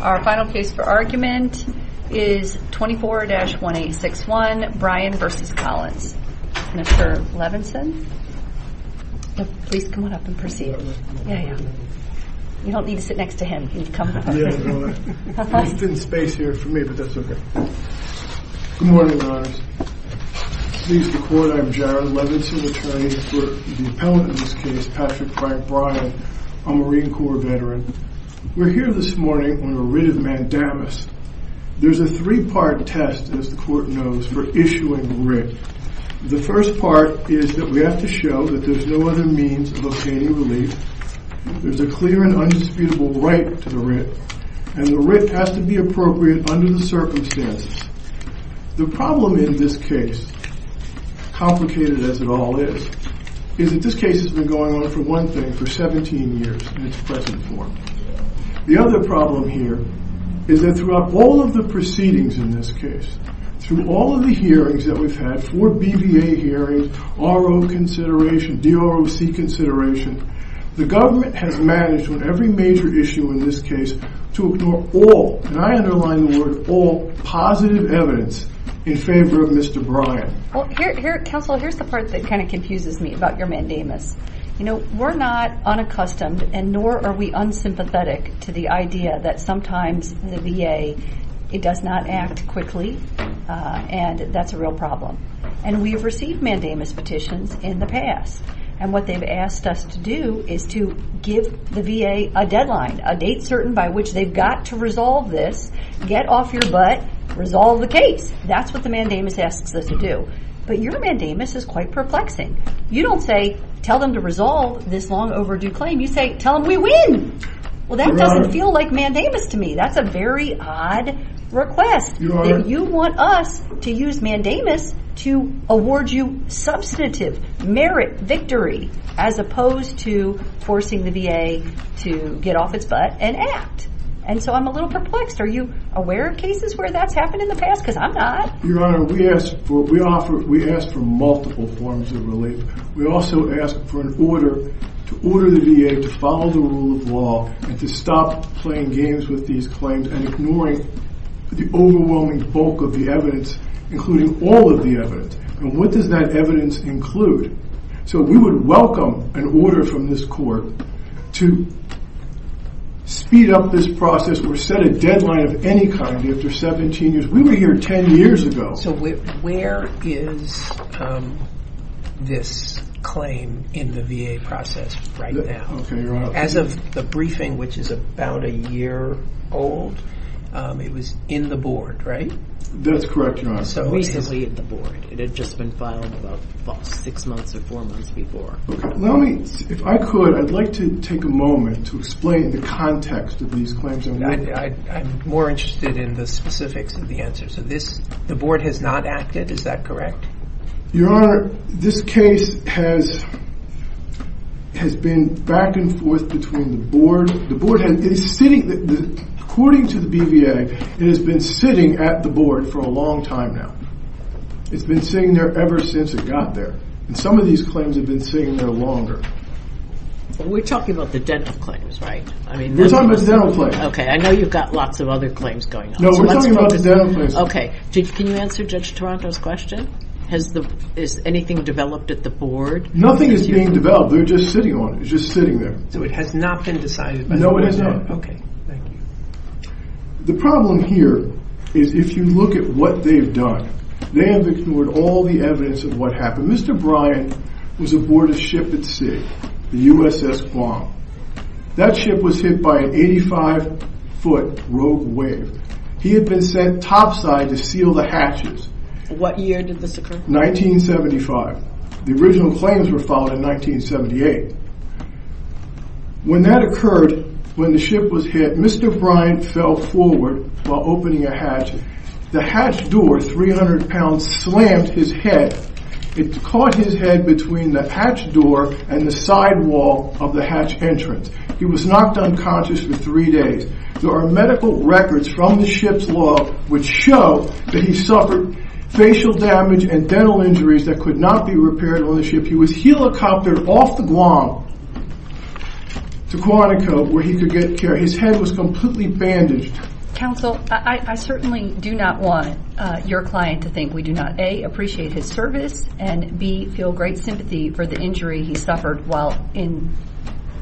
Our final case for argument is 24-1861, Bryan v. Collins. Mr. Levinson? Please come on up and proceed. You don't need to sit next to him. There's been space here for me, but that's okay. Good morning, ladies and gentlemen. I'm Jared Levinson, attorney for the appellant in this case, Patrick Frank Bryan. I'm a Marine Corps veteran. We're here this morning on a writ of mandamus. There's a three-part test, as the court knows, for issuing a writ. The first part is that we have to show that there's no other means of obtaining relief. There's a clear and undisputable right to the writ, and the writ has to be appropriate under the circumstances. The problem in this case, complicated as it all is, is that this case has been going on for one thing for 17 years in its present form. The other problem here is that throughout all of the proceedings in this case, through all of the hearings that we've had, four BVA hearings, RO consideration, DROC consideration, the government has managed on every major issue in this case to ignore all, and I underline the word all, positive evidence in favor of Mr. Bryan. Well, counsel, here's the part that kind of confuses me about your mandamus. You know, we're not unaccustomed, and nor are we unsympathetic to the idea that sometimes the VA, it does not act quickly, and that's a real problem. We've received mandamus petitions in the past, and what they've asked us to do is to give the VA a deadline, a date certain by which they've got to resolve this, get off your butt, resolve the case. That's what the mandamus asks us to do, but your mandamus is quite perplexing. You don't say, tell them to resolve this long overdue claim. You say, tell them we win. Well, that doesn't feel like mandamus to me. That's a very odd request. You want us to use mandamus to award you substantive merit, victory, as opposed to forcing the VA to get off its butt and act, and so I'm a little perplexed. Are you aware of cases where that's happened in the past? Because I'm not. Your Honor, we ask for multiple forms of relief. We also ask for an order to order the VA to follow the rule of law and to stop playing games with these claims and ignoring the overwhelming bulk of the evidence, including all of the evidence, and what does that evidence include? So we would welcome an order from this court to speed up this process or set a deadline of any kind after 17 years. We were here 10 years ago. So where is this claim in the VA process right now? Okay, Your Honor. As of the briefing, which is about a year old, it was in the board, right? That's correct, Your Honor. It had just been filed about six months or four months before. If I could, I'd like to take a moment to explain the context of these claims. I'm more interested in the specifics of the answers. The board has not acted, is that correct? Your Honor, this case has been back and forth between the board. According to the BVA, it has been sitting at the board for a long time now. It's been sitting there ever since it got there, and some of these claims have been sitting there longer. We're talking about the dental claims, right? We're talking about the dental claims. Okay, I know you've got lots of other claims going on. No, we're talking about the dental claims. Okay, can you answer Judge Toronto's question? Has anything developed at the board? Nothing is being developed. They're just sitting on it. It's just sitting there. So it has not been decided before? No, it has not. Okay, thank you. The problem here is if you look at what they've done, they have ignored all the evidence of what happened. Mr. Bryan was aboard a ship at sea, the USS Guam. That ship was hit by an 85-foot rogue wave. He had been sent topside to seal the hatches. What year did this occur? 1975. The original claims were filed in 1978. When that occurred, when the ship was hit, Mr. Bryan fell forward while opening a hatch. The hatch door, 300 pounds, slammed his head. It caught his head between the hatch door and the sidewall of the hatch entrance. He was knocked unconscious for three days. There are medical records from the ship's log which show that he suffered facial damage and dental injuries that could not be repaired on the ship. He was helicoptered off the Guam to Quantico where he could get care. His head was completely bandaged. Counsel, I certainly do not want your client to think we do not, A, appreciate his service and, B, feel great sympathy for the injury he suffered while in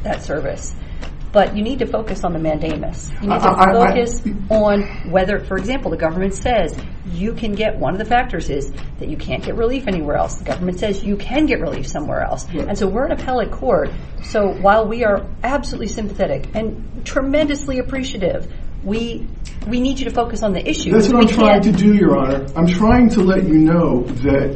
that service. But you need to focus on the mandamus. You need to focus on whether, for example, the government says you can get, one of the factors is that you can't get relief anywhere else. The government says you can get relief somewhere else. And so we're an appellate court, so while we are absolutely sympathetic and tremendously appreciative, we need you to focus on the issue. That's what I'm trying to do, Your Honor. I'm trying to let you know that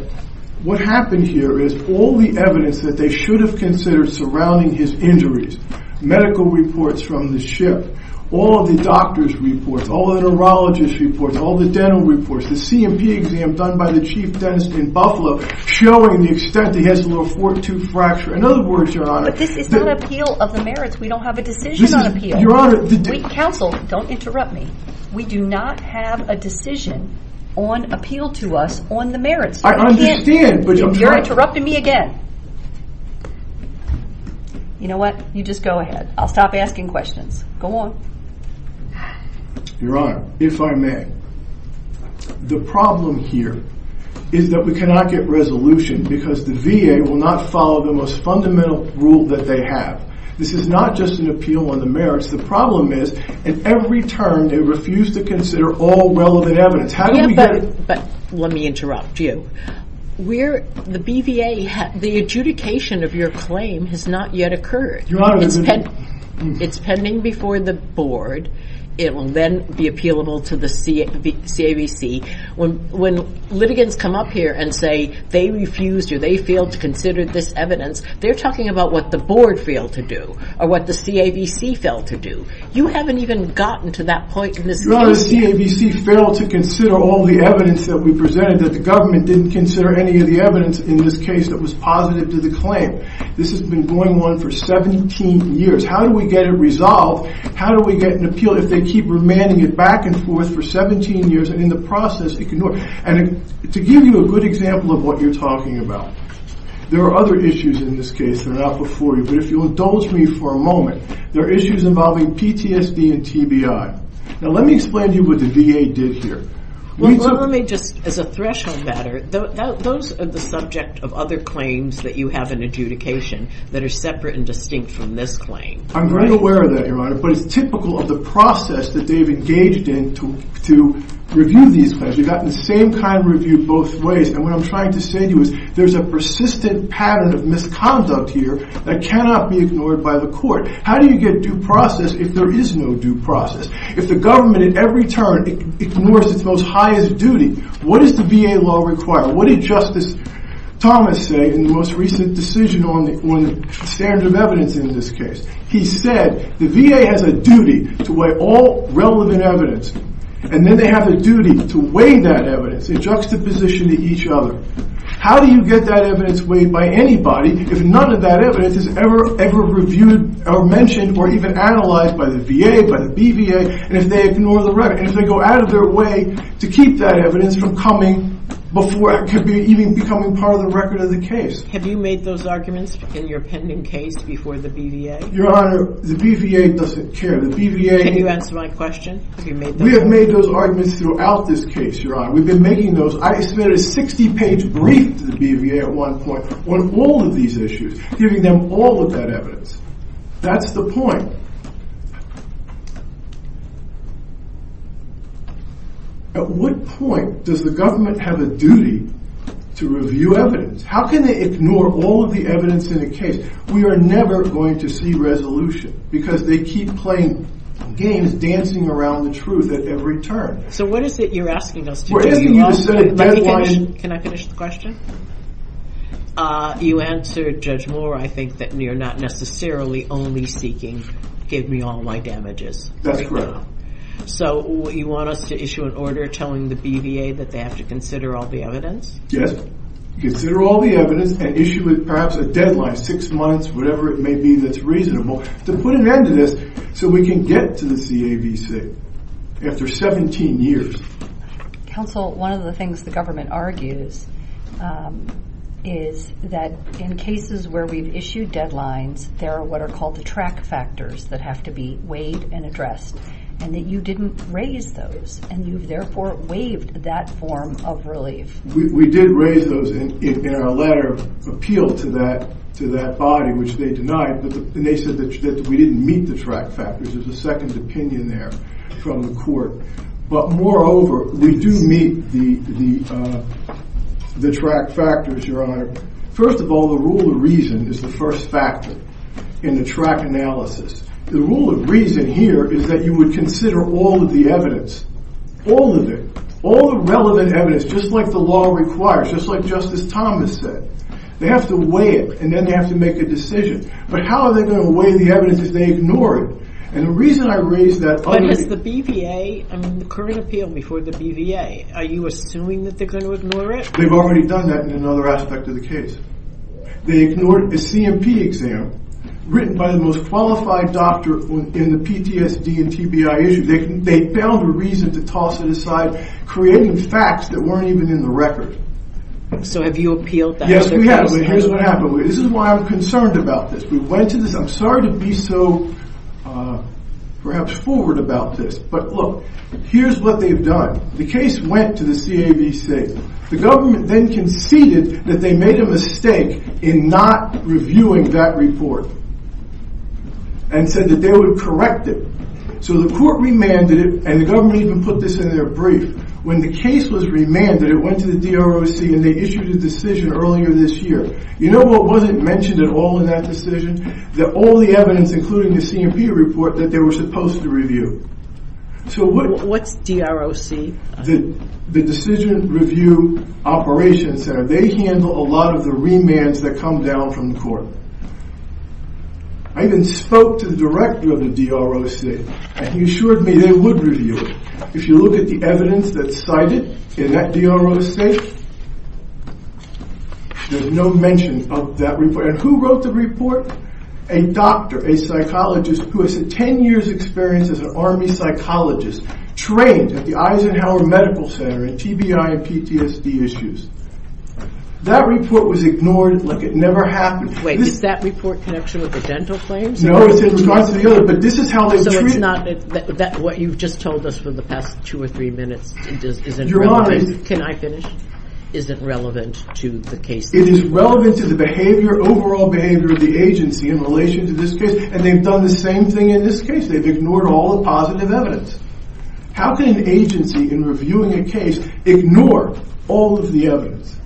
what happened here is all the evidence that they should have considered surrounding his injuries, medical reports from the ship, all the doctors' reports, all the neurologists' reports, all the dental reports, the C&P exam done by the chief dentist in Buffalo showing the extent that he has a little four-tooth fracture. In other words, Your Honor— But this is not an appeal of the merits. We don't have a decision on appeal. This is, Your Honor— Counsel, don't interrupt me. We do not have a decision on appeal to us on the merits. I understand, but— You're interrupting me again. You know what? You just go ahead. I'll stop asking questions. Go on. Your Honor, if I may, the problem here is that we cannot get resolution because the VA will not follow the most fundamental rule that they have. This is not just an appeal on the merits. The problem is, at every turn, they refuse to consider all relevant evidence. How do we get— Yeah, but let me interrupt you. We're—the BVA—the adjudication of your claim has not yet occurred. Your Honor— It's pending before the board. It will then be appealable to the CAVC. When litigants come up here and say they refused or they failed to consider this evidence, they're talking about what the board failed to do or what the CAVC failed to do. You haven't even gotten to that point in this case yet. Your Honor, the CAVC failed to consider all the evidence that we presented, that the government didn't consider any of the evidence in this case that was positive to the claim. This has been going on for 17 years. How do we get it resolved? How do we get an appeal if they keep remanding it back and forth for 17 years and in the process ignore it? And to give you a good example of what you're talking about, there are other issues in this case that are not before you. But if you'll indulge me for a moment, there are issues involving PTSD and TBI. Now, let me explain to you what the VA did here. Well, let me just, as a threshold matter, those are the subject of other claims that you have in adjudication that are separate and distinct from this claim. I'm very aware of that, Your Honor. But it's typical of the process that they've engaged in to review these claims. They've gotten the same kind of review both ways. And what I'm trying to say to you is there's a persistent pattern of misconduct here that cannot be ignored by the court. How do you get due process if there is no due process? If the government at every turn ignores its most highest duty, what does the VA law require? What did Justice Thomas say in the most recent decision on the standard of evidence in this case? He said the VA has a duty to weigh all relevant evidence, and then they have a duty to weigh that evidence in juxtaposition to each other. How do you get that evidence weighed by anybody if none of that evidence is ever reviewed or mentioned or even analyzed by the VA, by the BVA, and if they ignore the record? And if they go out of their way to keep that evidence from coming before it could be even becoming part of the record of the case? Have you made those arguments in your pending case before the BVA? Your Honor, the BVA doesn't care. The BVA— Can you answer my question? Have you made those— We have made those arguments throughout this case, Your Honor. We've been making those—I submitted a 60-page brief to the BVA at one point on all of these issues, giving them all of that evidence. That's the point. At what point does the government have a duty to review evidence? How can they ignore all of the evidence in a case? We are never going to see resolution because they keep playing games, dancing around the truth at every turn. So what is it you're asking us to do? We're asking you to set a deadline— Can I finish the question? You answered, Judge Moore, I think, that you're not necessarily only seeking, give me all my damages. That's correct. So you want us to issue an order telling the BVA that they have to consider all the evidence? Yes. Consider all the evidence and issue it perhaps a deadline, six months, whatever it may be that's reasonable, to put an end to this so we can get to the CAVC. After 17 years— Counsel, one of the things the government argues is that in cases where we've issued deadlines, there are what are called the track factors that have to be weighed and addressed, and that you didn't raise those, and you've therefore waived that form of relief. We did raise those in our letter of appeal to that body, which they denied, and they said that we didn't meet the track factors. There's a second opinion there from the court. But moreover, we do meet the track factors, Your Honor. First of all, the rule of reason is the first factor in the track analysis. The rule of reason here is that you would consider all of the evidence, all of it, all the relevant evidence, just like the law requires, just like Justice Thomas said. They have to weigh it, and then they have to make a decision. But how are they going to weigh the evidence if they ignore it? And the reason I raise that— But has the BVA—I mean, the current appeal before the BVA, are you assuming that they're going to ignore it? They've already done that in another aspect of the case. They ignored a C&P exam written by the most qualified doctor in the PTSD and TBI issues. They found a reason to toss it aside, creating facts that weren't even in the record. So have you appealed— Yes, we have. Here's what happened. This is why I'm concerned about this. We went to this. I'm sorry to be so perhaps forward about this. But, look, here's what they've done. The case went to the CAVC. The government then conceded that they made a mistake in not reviewing that report and said that they would correct it. So the court remanded it, and the government even put this in their brief. When the case was remanded, it went to the DROC, and they issued a decision earlier this year. You know what wasn't mentioned at all in that decision? That all the evidence, including the C&P report, that they were supposed to review. What's DROC? The Decision Review Operations Center. They handle a lot of the remands that come down from the court. I even spoke to the director of the DROC, and he assured me they would review it. If you look at the evidence that's cited in that DROC, there's no mention of that report. And who wrote the report? A doctor, a psychologist, who has 10 years' experience as an Army psychologist, trained at the Eisenhower Medical Center in TBI and PTSD issues. That report was ignored like it never happened. Is that report in connection with the dental claims? No, it's in regards to the other. So what you've just told us for the past two or three minutes isn't relevant to the case? It is relevant to the overall behavior of the agency in relation to this case, and they've done the same thing in this case. They've ignored all the positive evidence. How can an agency, in reviewing a case, ignore all of the evidence?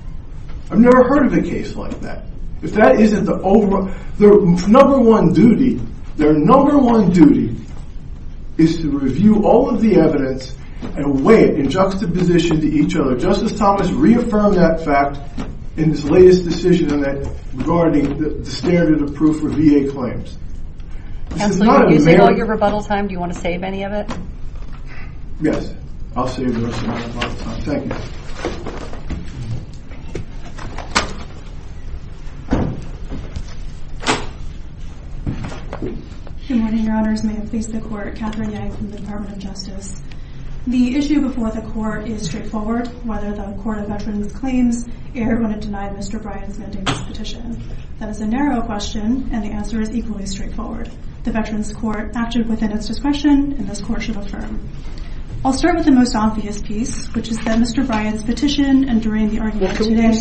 I've never heard of a case like that. Their number one duty is to review all of the evidence and weigh it in juxtaposition to each other. Justice Thomas reaffirmed that fact in his latest decision regarding the standard of proof for VA claims. Counselor, you've used up all your rebuttal time. Do you want to save any of it? Yes, I'll save the rest of my rebuttal time. Thank you. Good morning, Your Honors. May it please the Court? Catherine Yang from the Department of Justice. The issue before the Court is straightforward, whether the Court of Veterans Claims erred when it denied Mr. Bryant's mending this petition. That is a narrow question, and the answer is equally straightforward. The Veterans Court acted within its discretion, and this Court should affirm. I'll start with the most obvious piece, which is that Mr. Bryant's petition and during the argument today— I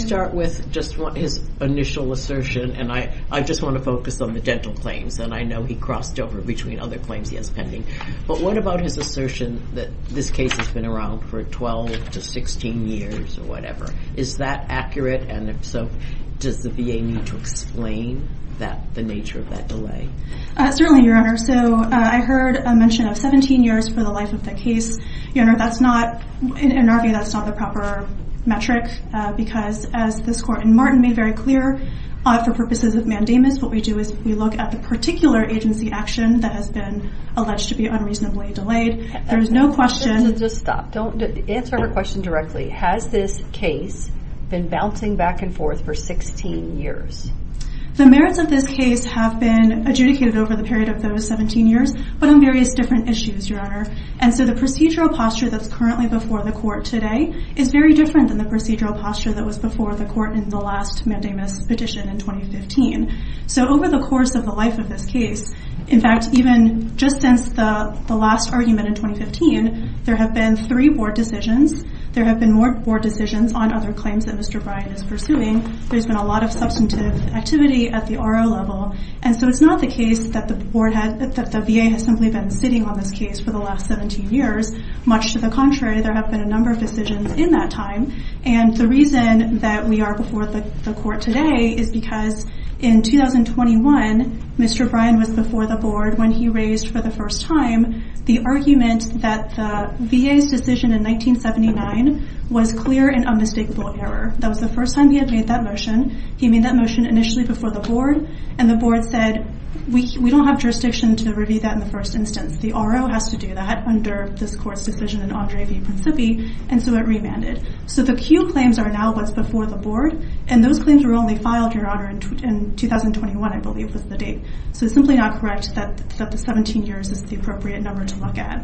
just want to focus on the dental claims, and I know he crossed over between other claims he has pending. But what about his assertion that this case has been around for 12 to 16 years or whatever? Is that accurate, and if so, does the VA need to explain the nature of that delay? Certainly, Your Honor. I heard a mention of 17 years for the life of the case. Your Honor, in our view, that's not the proper metric, because as this Court and Martin made very clear, for purposes of mandamus, what we do is we look at the particular agency action that has been alleged to be unreasonably delayed. There is no question— Just stop. Answer her question directly. Has this case been bouncing back and forth for 16 years? The merits of this case have been adjudicated over the period of those 17 years, but on various different issues, Your Honor. And so the procedural posture that's currently before the Court today is very different than the procedural posture that was before the Court in the last mandamus petition in 2015. So over the course of the life of this case, in fact, even just since the last argument in 2015, there have been three Board decisions. There have been more Board decisions on other claims that Mr. Bryant is pursuing. There's been a lot of substantive activity at the RO level. And so it's not the case that the VA has simply been sitting on this case for the last 17 years. Much to the contrary, there have been a number of decisions in that time. And the reason that we are before the Court today is because in 2021, Mr. Bryant was before the Board when he raised for the first time the argument that the VA's decision in 1979 was clear and unmistakable error. That was the first time he had made that motion. He made that motion initially before the Board. And the Board said, we don't have jurisdiction to review that in the first instance. The RO has to do that under this Court's decision in Andre v. Principi. And so it remanded. So the Q claims are now what's before the Board. And those claims were only filed, Your Honor, in 2021, I believe was the date. So it's simply not correct that the 17 years is the appropriate number to look at.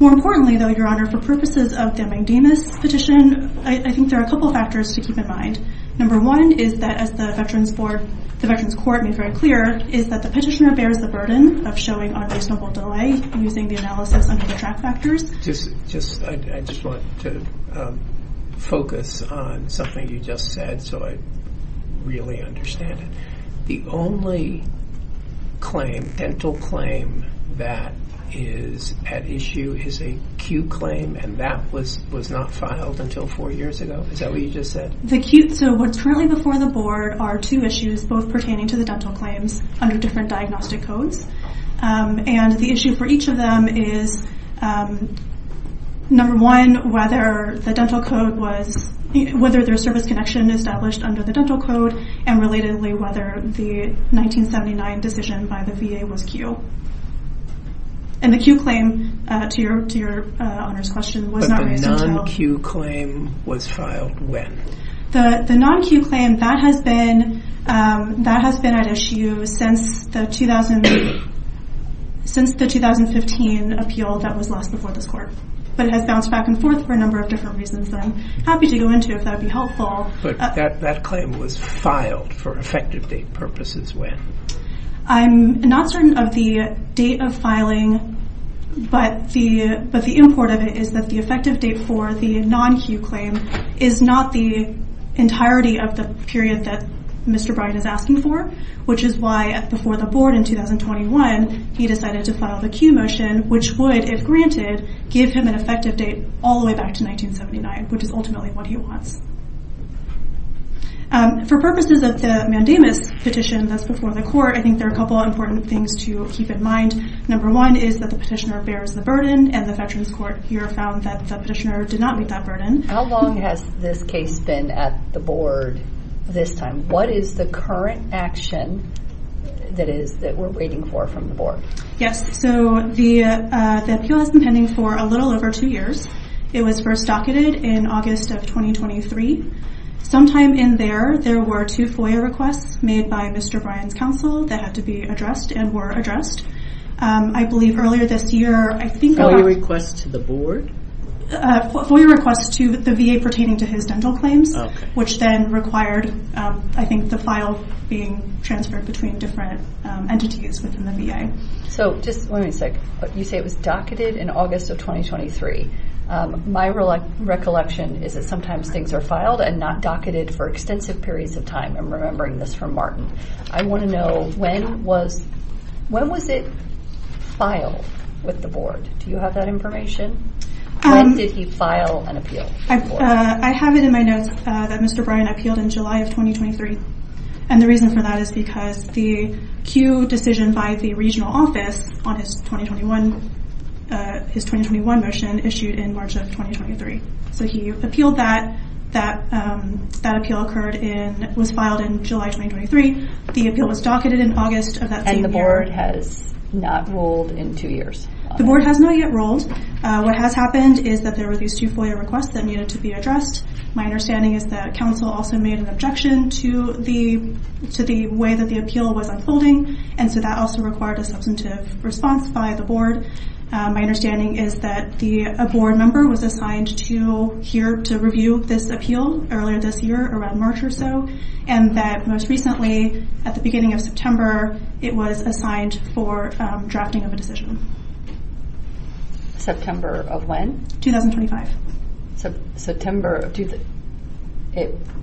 More importantly, though, Your Honor, for purposes of the mandamus petition, I think there are a couple of factors to keep in mind. Number one is that as the Veterans Court made very clear, is that the petitioner bears the burden of showing unreasonable delay using the analysis under the track factors. I just want to focus on something you just said so I really understand it. The only claim, dental claim, that is at issue is a Q claim. And that was not filed until four years ago. Is that what you just said? So what's currently before the Board are two issues both pertaining to the dental claims under different diagnostic codes. And the issue for each of them is, number one, whether the dental code was – whether there was service connection established under the dental code, and relatedly whether the 1979 decision by the VA was Q. And the Q claim, to Your Honor's question, was not raised in detail. The non-Q claim was filed when? The non-Q claim, that has been at issue since the 2015 appeal that was lost before this court. But it has bounced back and forth for a number of different reasons that I'm happy to go into if that would be helpful. But that claim was filed for effective date purposes when? I'm not certain of the date of filing, but the import of it is that the effective date for the non-Q claim is not the entirety of the period that Mr. Bryant is asking for, which is why before the Board in 2021 he decided to file the Q motion, which would, if granted, give him an effective date all the way back to 1979, which is ultimately what he wants. For purposes of the mandamus petition that's before the court, I think there are a couple of important things to keep in mind. Number one is that the petitioner bears the burden, and the Veterans Court here found that the petitioner did not meet that burden. How long has this case been at the Board this time? What is the current action that we're waiting for from the Board? Yes, so the appeal has been pending for a little over two years. It was first docketed in August of 2023. Sometime in there, there were two FOIA requests made by Mr. Bryant's counsel that had to be addressed and were addressed. I believe earlier this year, I think, FOIA requests to the Board? FOIA requests to the VA pertaining to his dental claims, which then required, I think, the file being transferred between different entities within the VA. Just one second. You say it was docketed in August of 2023. My recollection is that sometimes things are filed and not docketed for extensive periods of time. I'm remembering this from Martin. I want to know, when was it filed with the Board? Do you have that information? When did he file an appeal? I have it in my notes that Mr. Bryant appealed in July of 2023. And the reason for that is because the Q decision by the regional office on his 2021 motion issued in March of 2023. So he appealed that. That appeal was filed in July 2023. The appeal was docketed in August of that same year. And the Board has not ruled in two years? The Board has not yet ruled. What has happened is that there were these two FOIA requests that needed to be addressed. My understanding is that Council also made an objection to the way that the appeal was unfolding. And so that also required a substantive response by the Board. My understanding is that a Board member was assigned to review this appeal earlier this year, around March or so, and that most recently, at the beginning of September, it was assigned for drafting of a decision. September of when? 2025. September.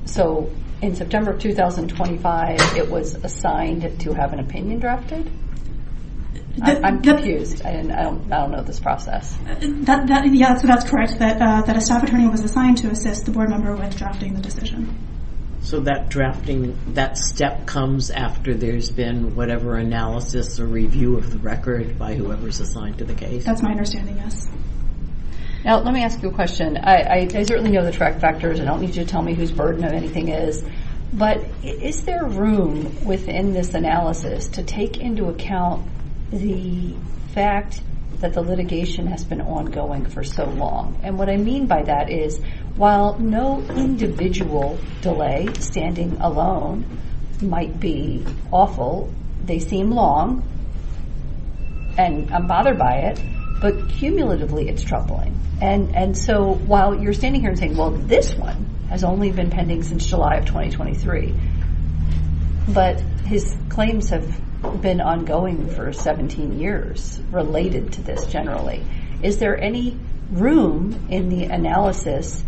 So in September of 2025, it was assigned to have an opinion drafted? I'm confused. I don't know this process. Yeah, so that's correct, that a staff attorney was assigned to assist the Board member with drafting the decision. So that drafting, that step comes after there's been whatever analysis or review of the record by whoever's assigned to the case? That's my understanding, yes. Now, let me ask you a question. I certainly know the track factors. I don't need you to tell me whose burden of anything is. But is there room within this analysis to take into account the fact that the litigation has been ongoing for so long? And what I mean by that is, while no individual delay, standing alone, might be awful, they seem long, and I'm bothered by it, but cumulatively, it's troubling. And so while you're standing here and saying, well, this one has only been pending since July of 2023, but his claims have been ongoing for 17 years related to this generally. Is there any room in the analysis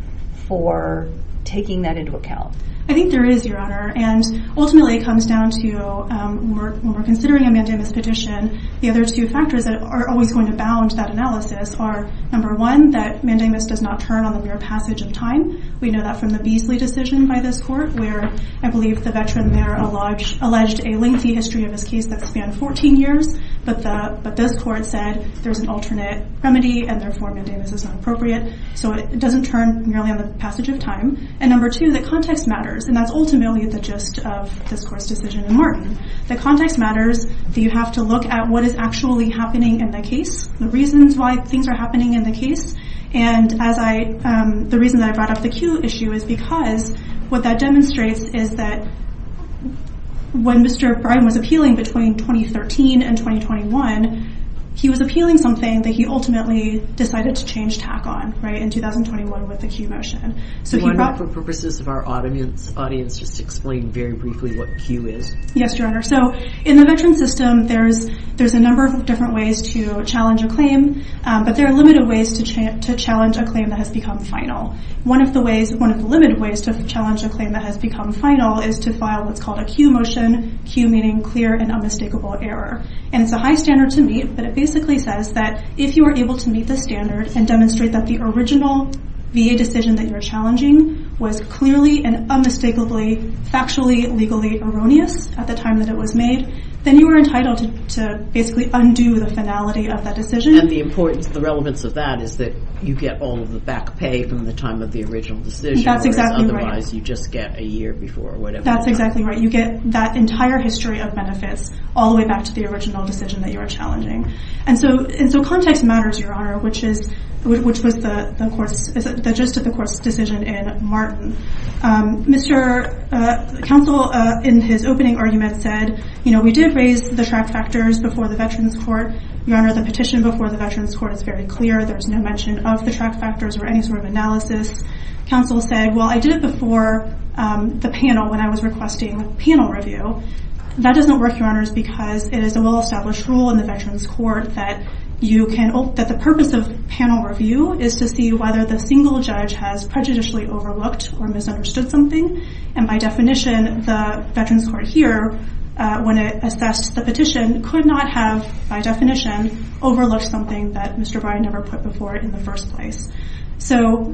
for taking that into account? I think there is, Your Honor. And ultimately, it comes down to when we're considering a mandamus petition, the other two factors that are always going to bound that analysis are, number one, that mandamus does not turn on the mere passage of time. We know that from the Beasley decision by this court, where I believe the veteran there alleged a lengthy history of his case that spanned 14 years. But this court said there's an alternate remedy, and therefore, mandamus is not appropriate. So it doesn't turn merely on the passage of time. And number two, the context matters. And that's ultimately the gist of this court's decision in Martin. The context matters. You have to look at what is actually happening in the case, the reasons why things are happening in the case. And the reason that I brought up the Q issue is because what that demonstrates is that when Mr. Briden was appealing between 2013 and 2021, he was appealing something that he ultimately decided to change tack on in 2021 with the Q motion. So he brought- For purposes of our audience, just explain very briefly what Q is. Yes, Your Honor. So in the veteran system, there's a number of different ways to challenge a claim. But there are limited ways to challenge a claim that has become final. One of the ways, one of the limited ways to challenge a claim that has become final is to file what's called a Q motion, Q meaning clear and unmistakable error. And it's a high standard to meet. But it basically says that if you are able to meet the standard and demonstrate that the original VA decision that you're challenging was clearly and unmistakably factually, legally erroneous at the time that it was made, then you are entitled to basically undo the finality of that decision. And the importance, the relevance of that is that you get all of the back pay from the time of the original decision. That's exactly right. Otherwise, you just get a year before or whatever. That's exactly right. You get that entire history of benefits all the way back to the original decision that you are challenging. And so context matters, Your Honor, which was the gist of the court's decision in Martin. Mr. Counsel, in his opening argument, said, you know, we did raise the track factors before the Veterans Court. Your Honor, the petition before the Veterans Court is very clear. There's no mention of the track factors or any sort of analysis. Counsel said, well, I did it before the panel when I was requesting panel review. That doesn't work, Your Honors, because it is a well-established rule in the Veterans Court that you can – that the purpose of panel review is to see whether the single judge has prejudicially overlooked or misunderstood something. And by definition, the Veterans Court here, when it assessed the petition, could not have, by definition, overlooked something that Mr. Bryan never put before it in the first place. So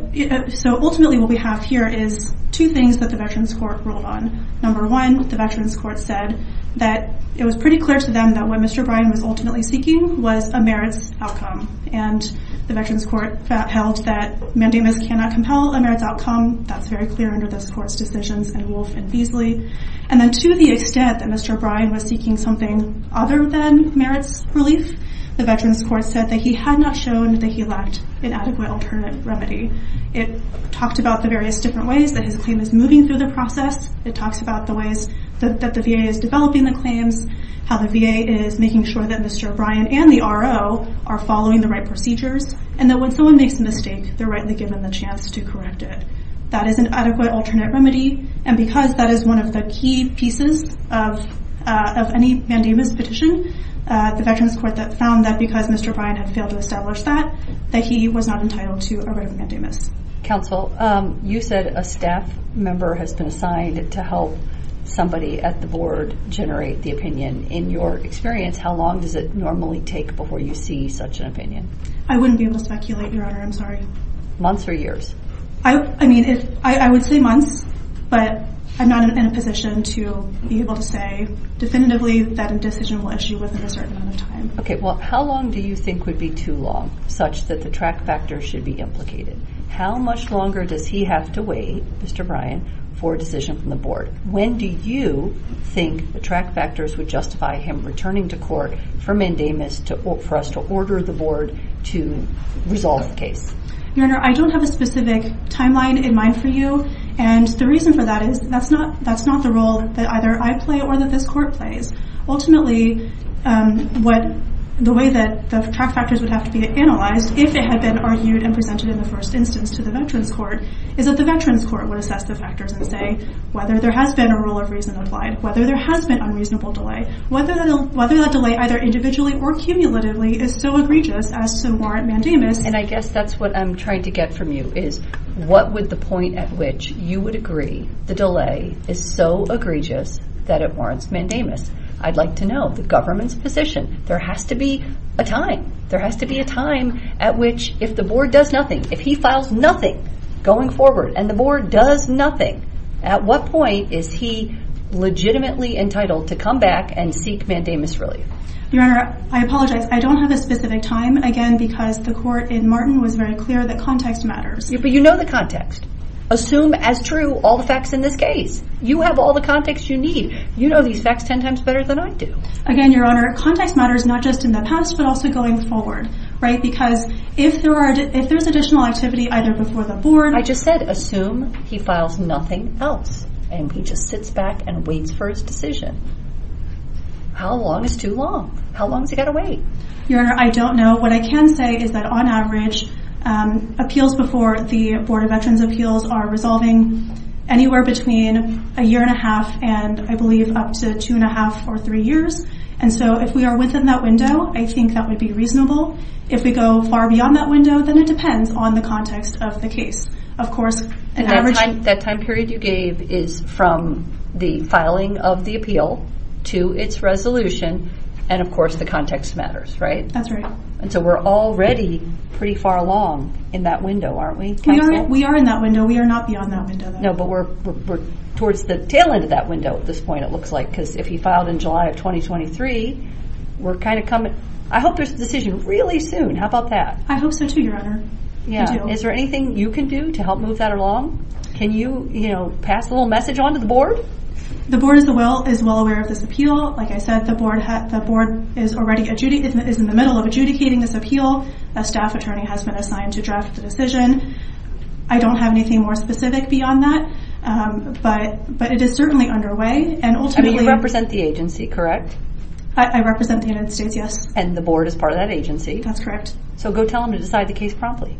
ultimately what we have here is two things that the Veterans Court ruled on. Number one, the Veterans Court said that it was pretty clear to them that what Mr. Bryan was ultimately seeking was a merits outcome. And the Veterans Court held that mandamus cannot compel a merits outcome. That's very clear under this court's decisions in Wolfe and Beasley. And then to the extent that Mr. Bryan was seeking something other than merits relief, the Veterans Court said that he had not shown that he lacked an adequate alternate remedy. It talked about the various different ways that his claim is moving through the process. It talks about the ways that the VA is developing the claims, how the VA is making sure that Mr. Bryan and the RO are following the right procedures, and that when someone makes a mistake, they're rightly given the chance to correct it. That is an adequate alternate remedy, and because that is one of the key pieces of any mandamus petition, the Veterans Court found that because Mr. Bryan had failed to establish that, that he was not entitled to a right of mandamus. Counsel, you said a staff member has been assigned to help somebody at the board generate the opinion. In your experience, how long does it normally take before you see such an opinion? I wouldn't be able to speculate, Your Honor. I'm sorry. Months or years? I mean, I would say months, but I'm not in a position to be able to say definitively that a decision will issue within a certain amount of time. Okay. Well, how long do you think would be too long such that the track factor should be implicated? How much longer does he have to wait, Mr. Bryan, for a decision from the board? When do you think the track factors would justify him returning to court for mandamus for us to order the board to resolve the case? Your Honor, I don't have a specific timeline in mind for you, and the reason for that is that's not the role that either I play or that this court plays. Ultimately, the way that the track factors would have to be analyzed, if they had been argued and presented in the first instance to the Veterans Court, is that the Veterans Court would assess the factors and say whether there has been a rule of reason applied, whether there has been unreasonable delay, whether that delay, either individually or cumulatively, is so egregious as to warrant mandamus. And I guess that's what I'm trying to get from you, is what would the point at which you would agree the delay is so egregious that it warrants mandamus? I'd like to know the government's position. There has to be a time. There has to be a time at which, if the board does nothing, if he files nothing going forward and the board does nothing, at what point is he legitimately entitled to come back and seek mandamus relief? Your Honor, I apologize. I don't have a specific time, again, because the court in Martin was very clear that context matters. But you know the context. Assume as true all the facts in this case. You have all the context you need. You know these facts ten times better than I do. Again, Your Honor, context matters not just in the past but also going forward, right? Because if there's additional activity either before the board… I just said assume he files nothing else and he just sits back and waits for his decision. How long is too long? How long has he got to wait? Your Honor, I don't know. What I can say is that on average, appeals before the Board of Veterans' Appeals are resolving anywhere between a year and a half and I believe up to two and a half or three years. And so if we are within that window, I think that would be reasonable. If we go far beyond that window, then it depends on the context of the case. Of course… And that time period you gave is from the filing of the appeal to its resolution and of course the context matters, right? That's right. And so we're already pretty far along in that window, aren't we, Counsel? We are in that window. We are not beyond that window. No, but we're towards the tail end of that window at this point it looks like because if he filed in July of 2023, we're kind of coming… I hope there's a decision really soon. How about that? I hope so too, Your Honor. Is there anything you can do to help move that along? Can you pass a little message on to the Board? The Board is well aware of this appeal. Like I said, the Board is already in the middle of adjudicating this appeal. A staff attorney has been assigned to draft the decision. I don't have anything more specific beyond that, but it is certainly underway and ultimately… You represent the agency, correct? I represent the United States, yes. And the Board is part of that agency. That's correct. So go tell them to decide the case promptly.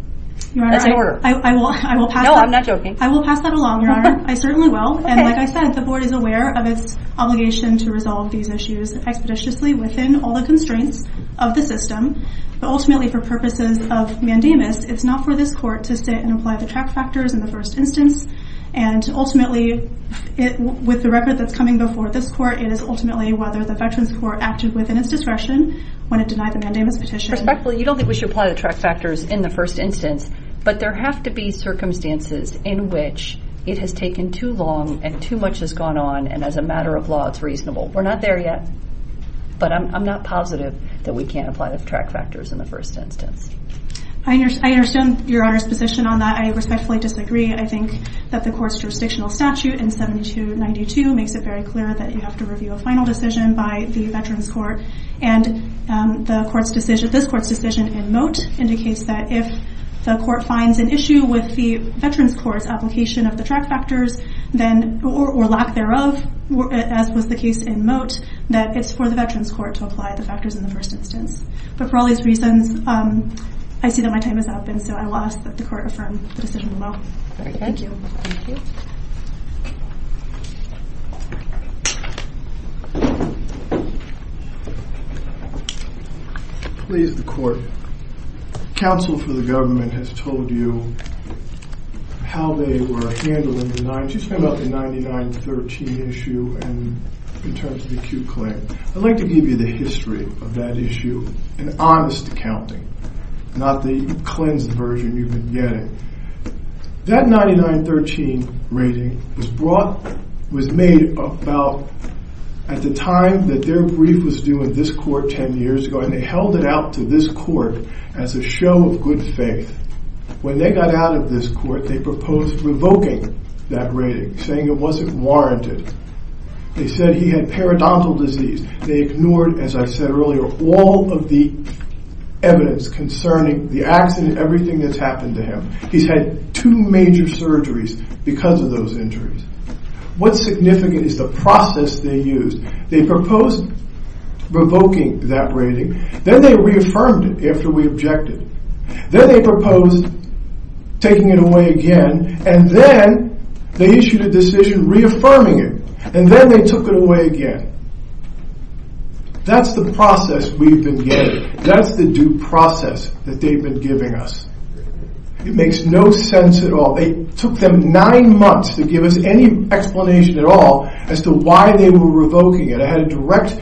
That's an order. No, I'm not joking. I will pass that along, Your Honor. I certainly will. And like I said, the Board is aware of its obligation to resolve these issues expeditiously within all the constraints of the system. But ultimately for purposes of mandamus, it's not for this Court to sit and apply the track factors in the first instance. And ultimately, with the record that's coming before this Court, it is ultimately whether the Veterans Court acted within its discretion when it denied the mandamus petition. Respectfully, you don't think we should apply the track factors in the first instance, but there have to be circumstances in which it has taken too long and too much has gone on, and as a matter of law, it's reasonable. We're not there yet, but I'm not positive that we can't apply the track factors in the first instance. I understand Your Honor's position on that. I respectfully disagree. I think that the Court's jurisdictional statute in 7292 makes it very clear that you have to review a final decision by the Veterans Court, and this Court's decision in moat indicates that if the Court finds an issue with the Veterans Court's application of the track factors, or lack thereof, as was the case in moat, that it's for the Veterans Court to apply the factors in the first instance. But for all these reasons, I see that my time is up, and so I will ask that the Court affirm the decision in moat. Thank you. Please, the Court. Counsel for the government has told you how they were handling the 913 issue in terms of the acute claim. I'd like to give you the history of that issue in honest accounting, not the cleansed version you've been getting. That 9913 rating was made about at the time that their brief was due in this Court 10 years ago, and they held it out to this Court as a show of good faith. When they got out of this Court, they proposed revoking that rating, saying it wasn't warranted. They said he had periodontal disease. They ignored, as I said earlier, all of the evidence concerning the accident, everything that's happened to him. He's had two major surgeries because of those injuries. What's significant is the process they used. They proposed revoking that rating, then they reaffirmed it after we objected. Then they proposed taking it away again, and then they issued a decision reaffirming it, and then they took it away again. That's the process we've been getting. That's the due process that they've been giving us. It makes no sense at all. It took them nine months to give us any explanation at all as to why they were revoking it. I had a direct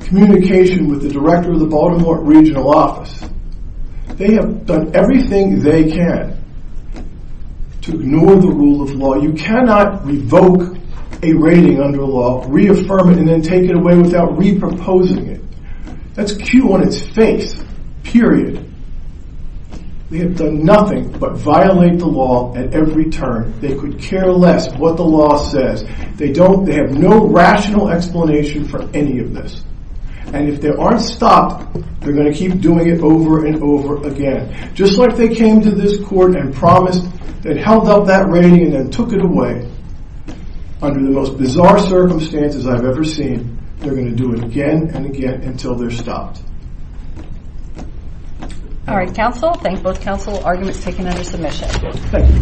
communication with the director of the Baltimore regional office. They have done everything they can to ignore the rule of law. You cannot revoke a rating under law, reaffirm it, and then take it away without reproposing it. That's Q on its face, period. They have done nothing but violate the law at every turn. They could care less what the law says. They have no rational explanation for any of this. If they aren't stopped, they're going to keep doing it over and over again. Just like they came to this court and promised and held up that rating and then took it away, under the most bizarre circumstances I've ever seen, they're going to do it again and again until they're stopped. All right, counsel. Thank both counsel. Arguments taken under submission. Thank you.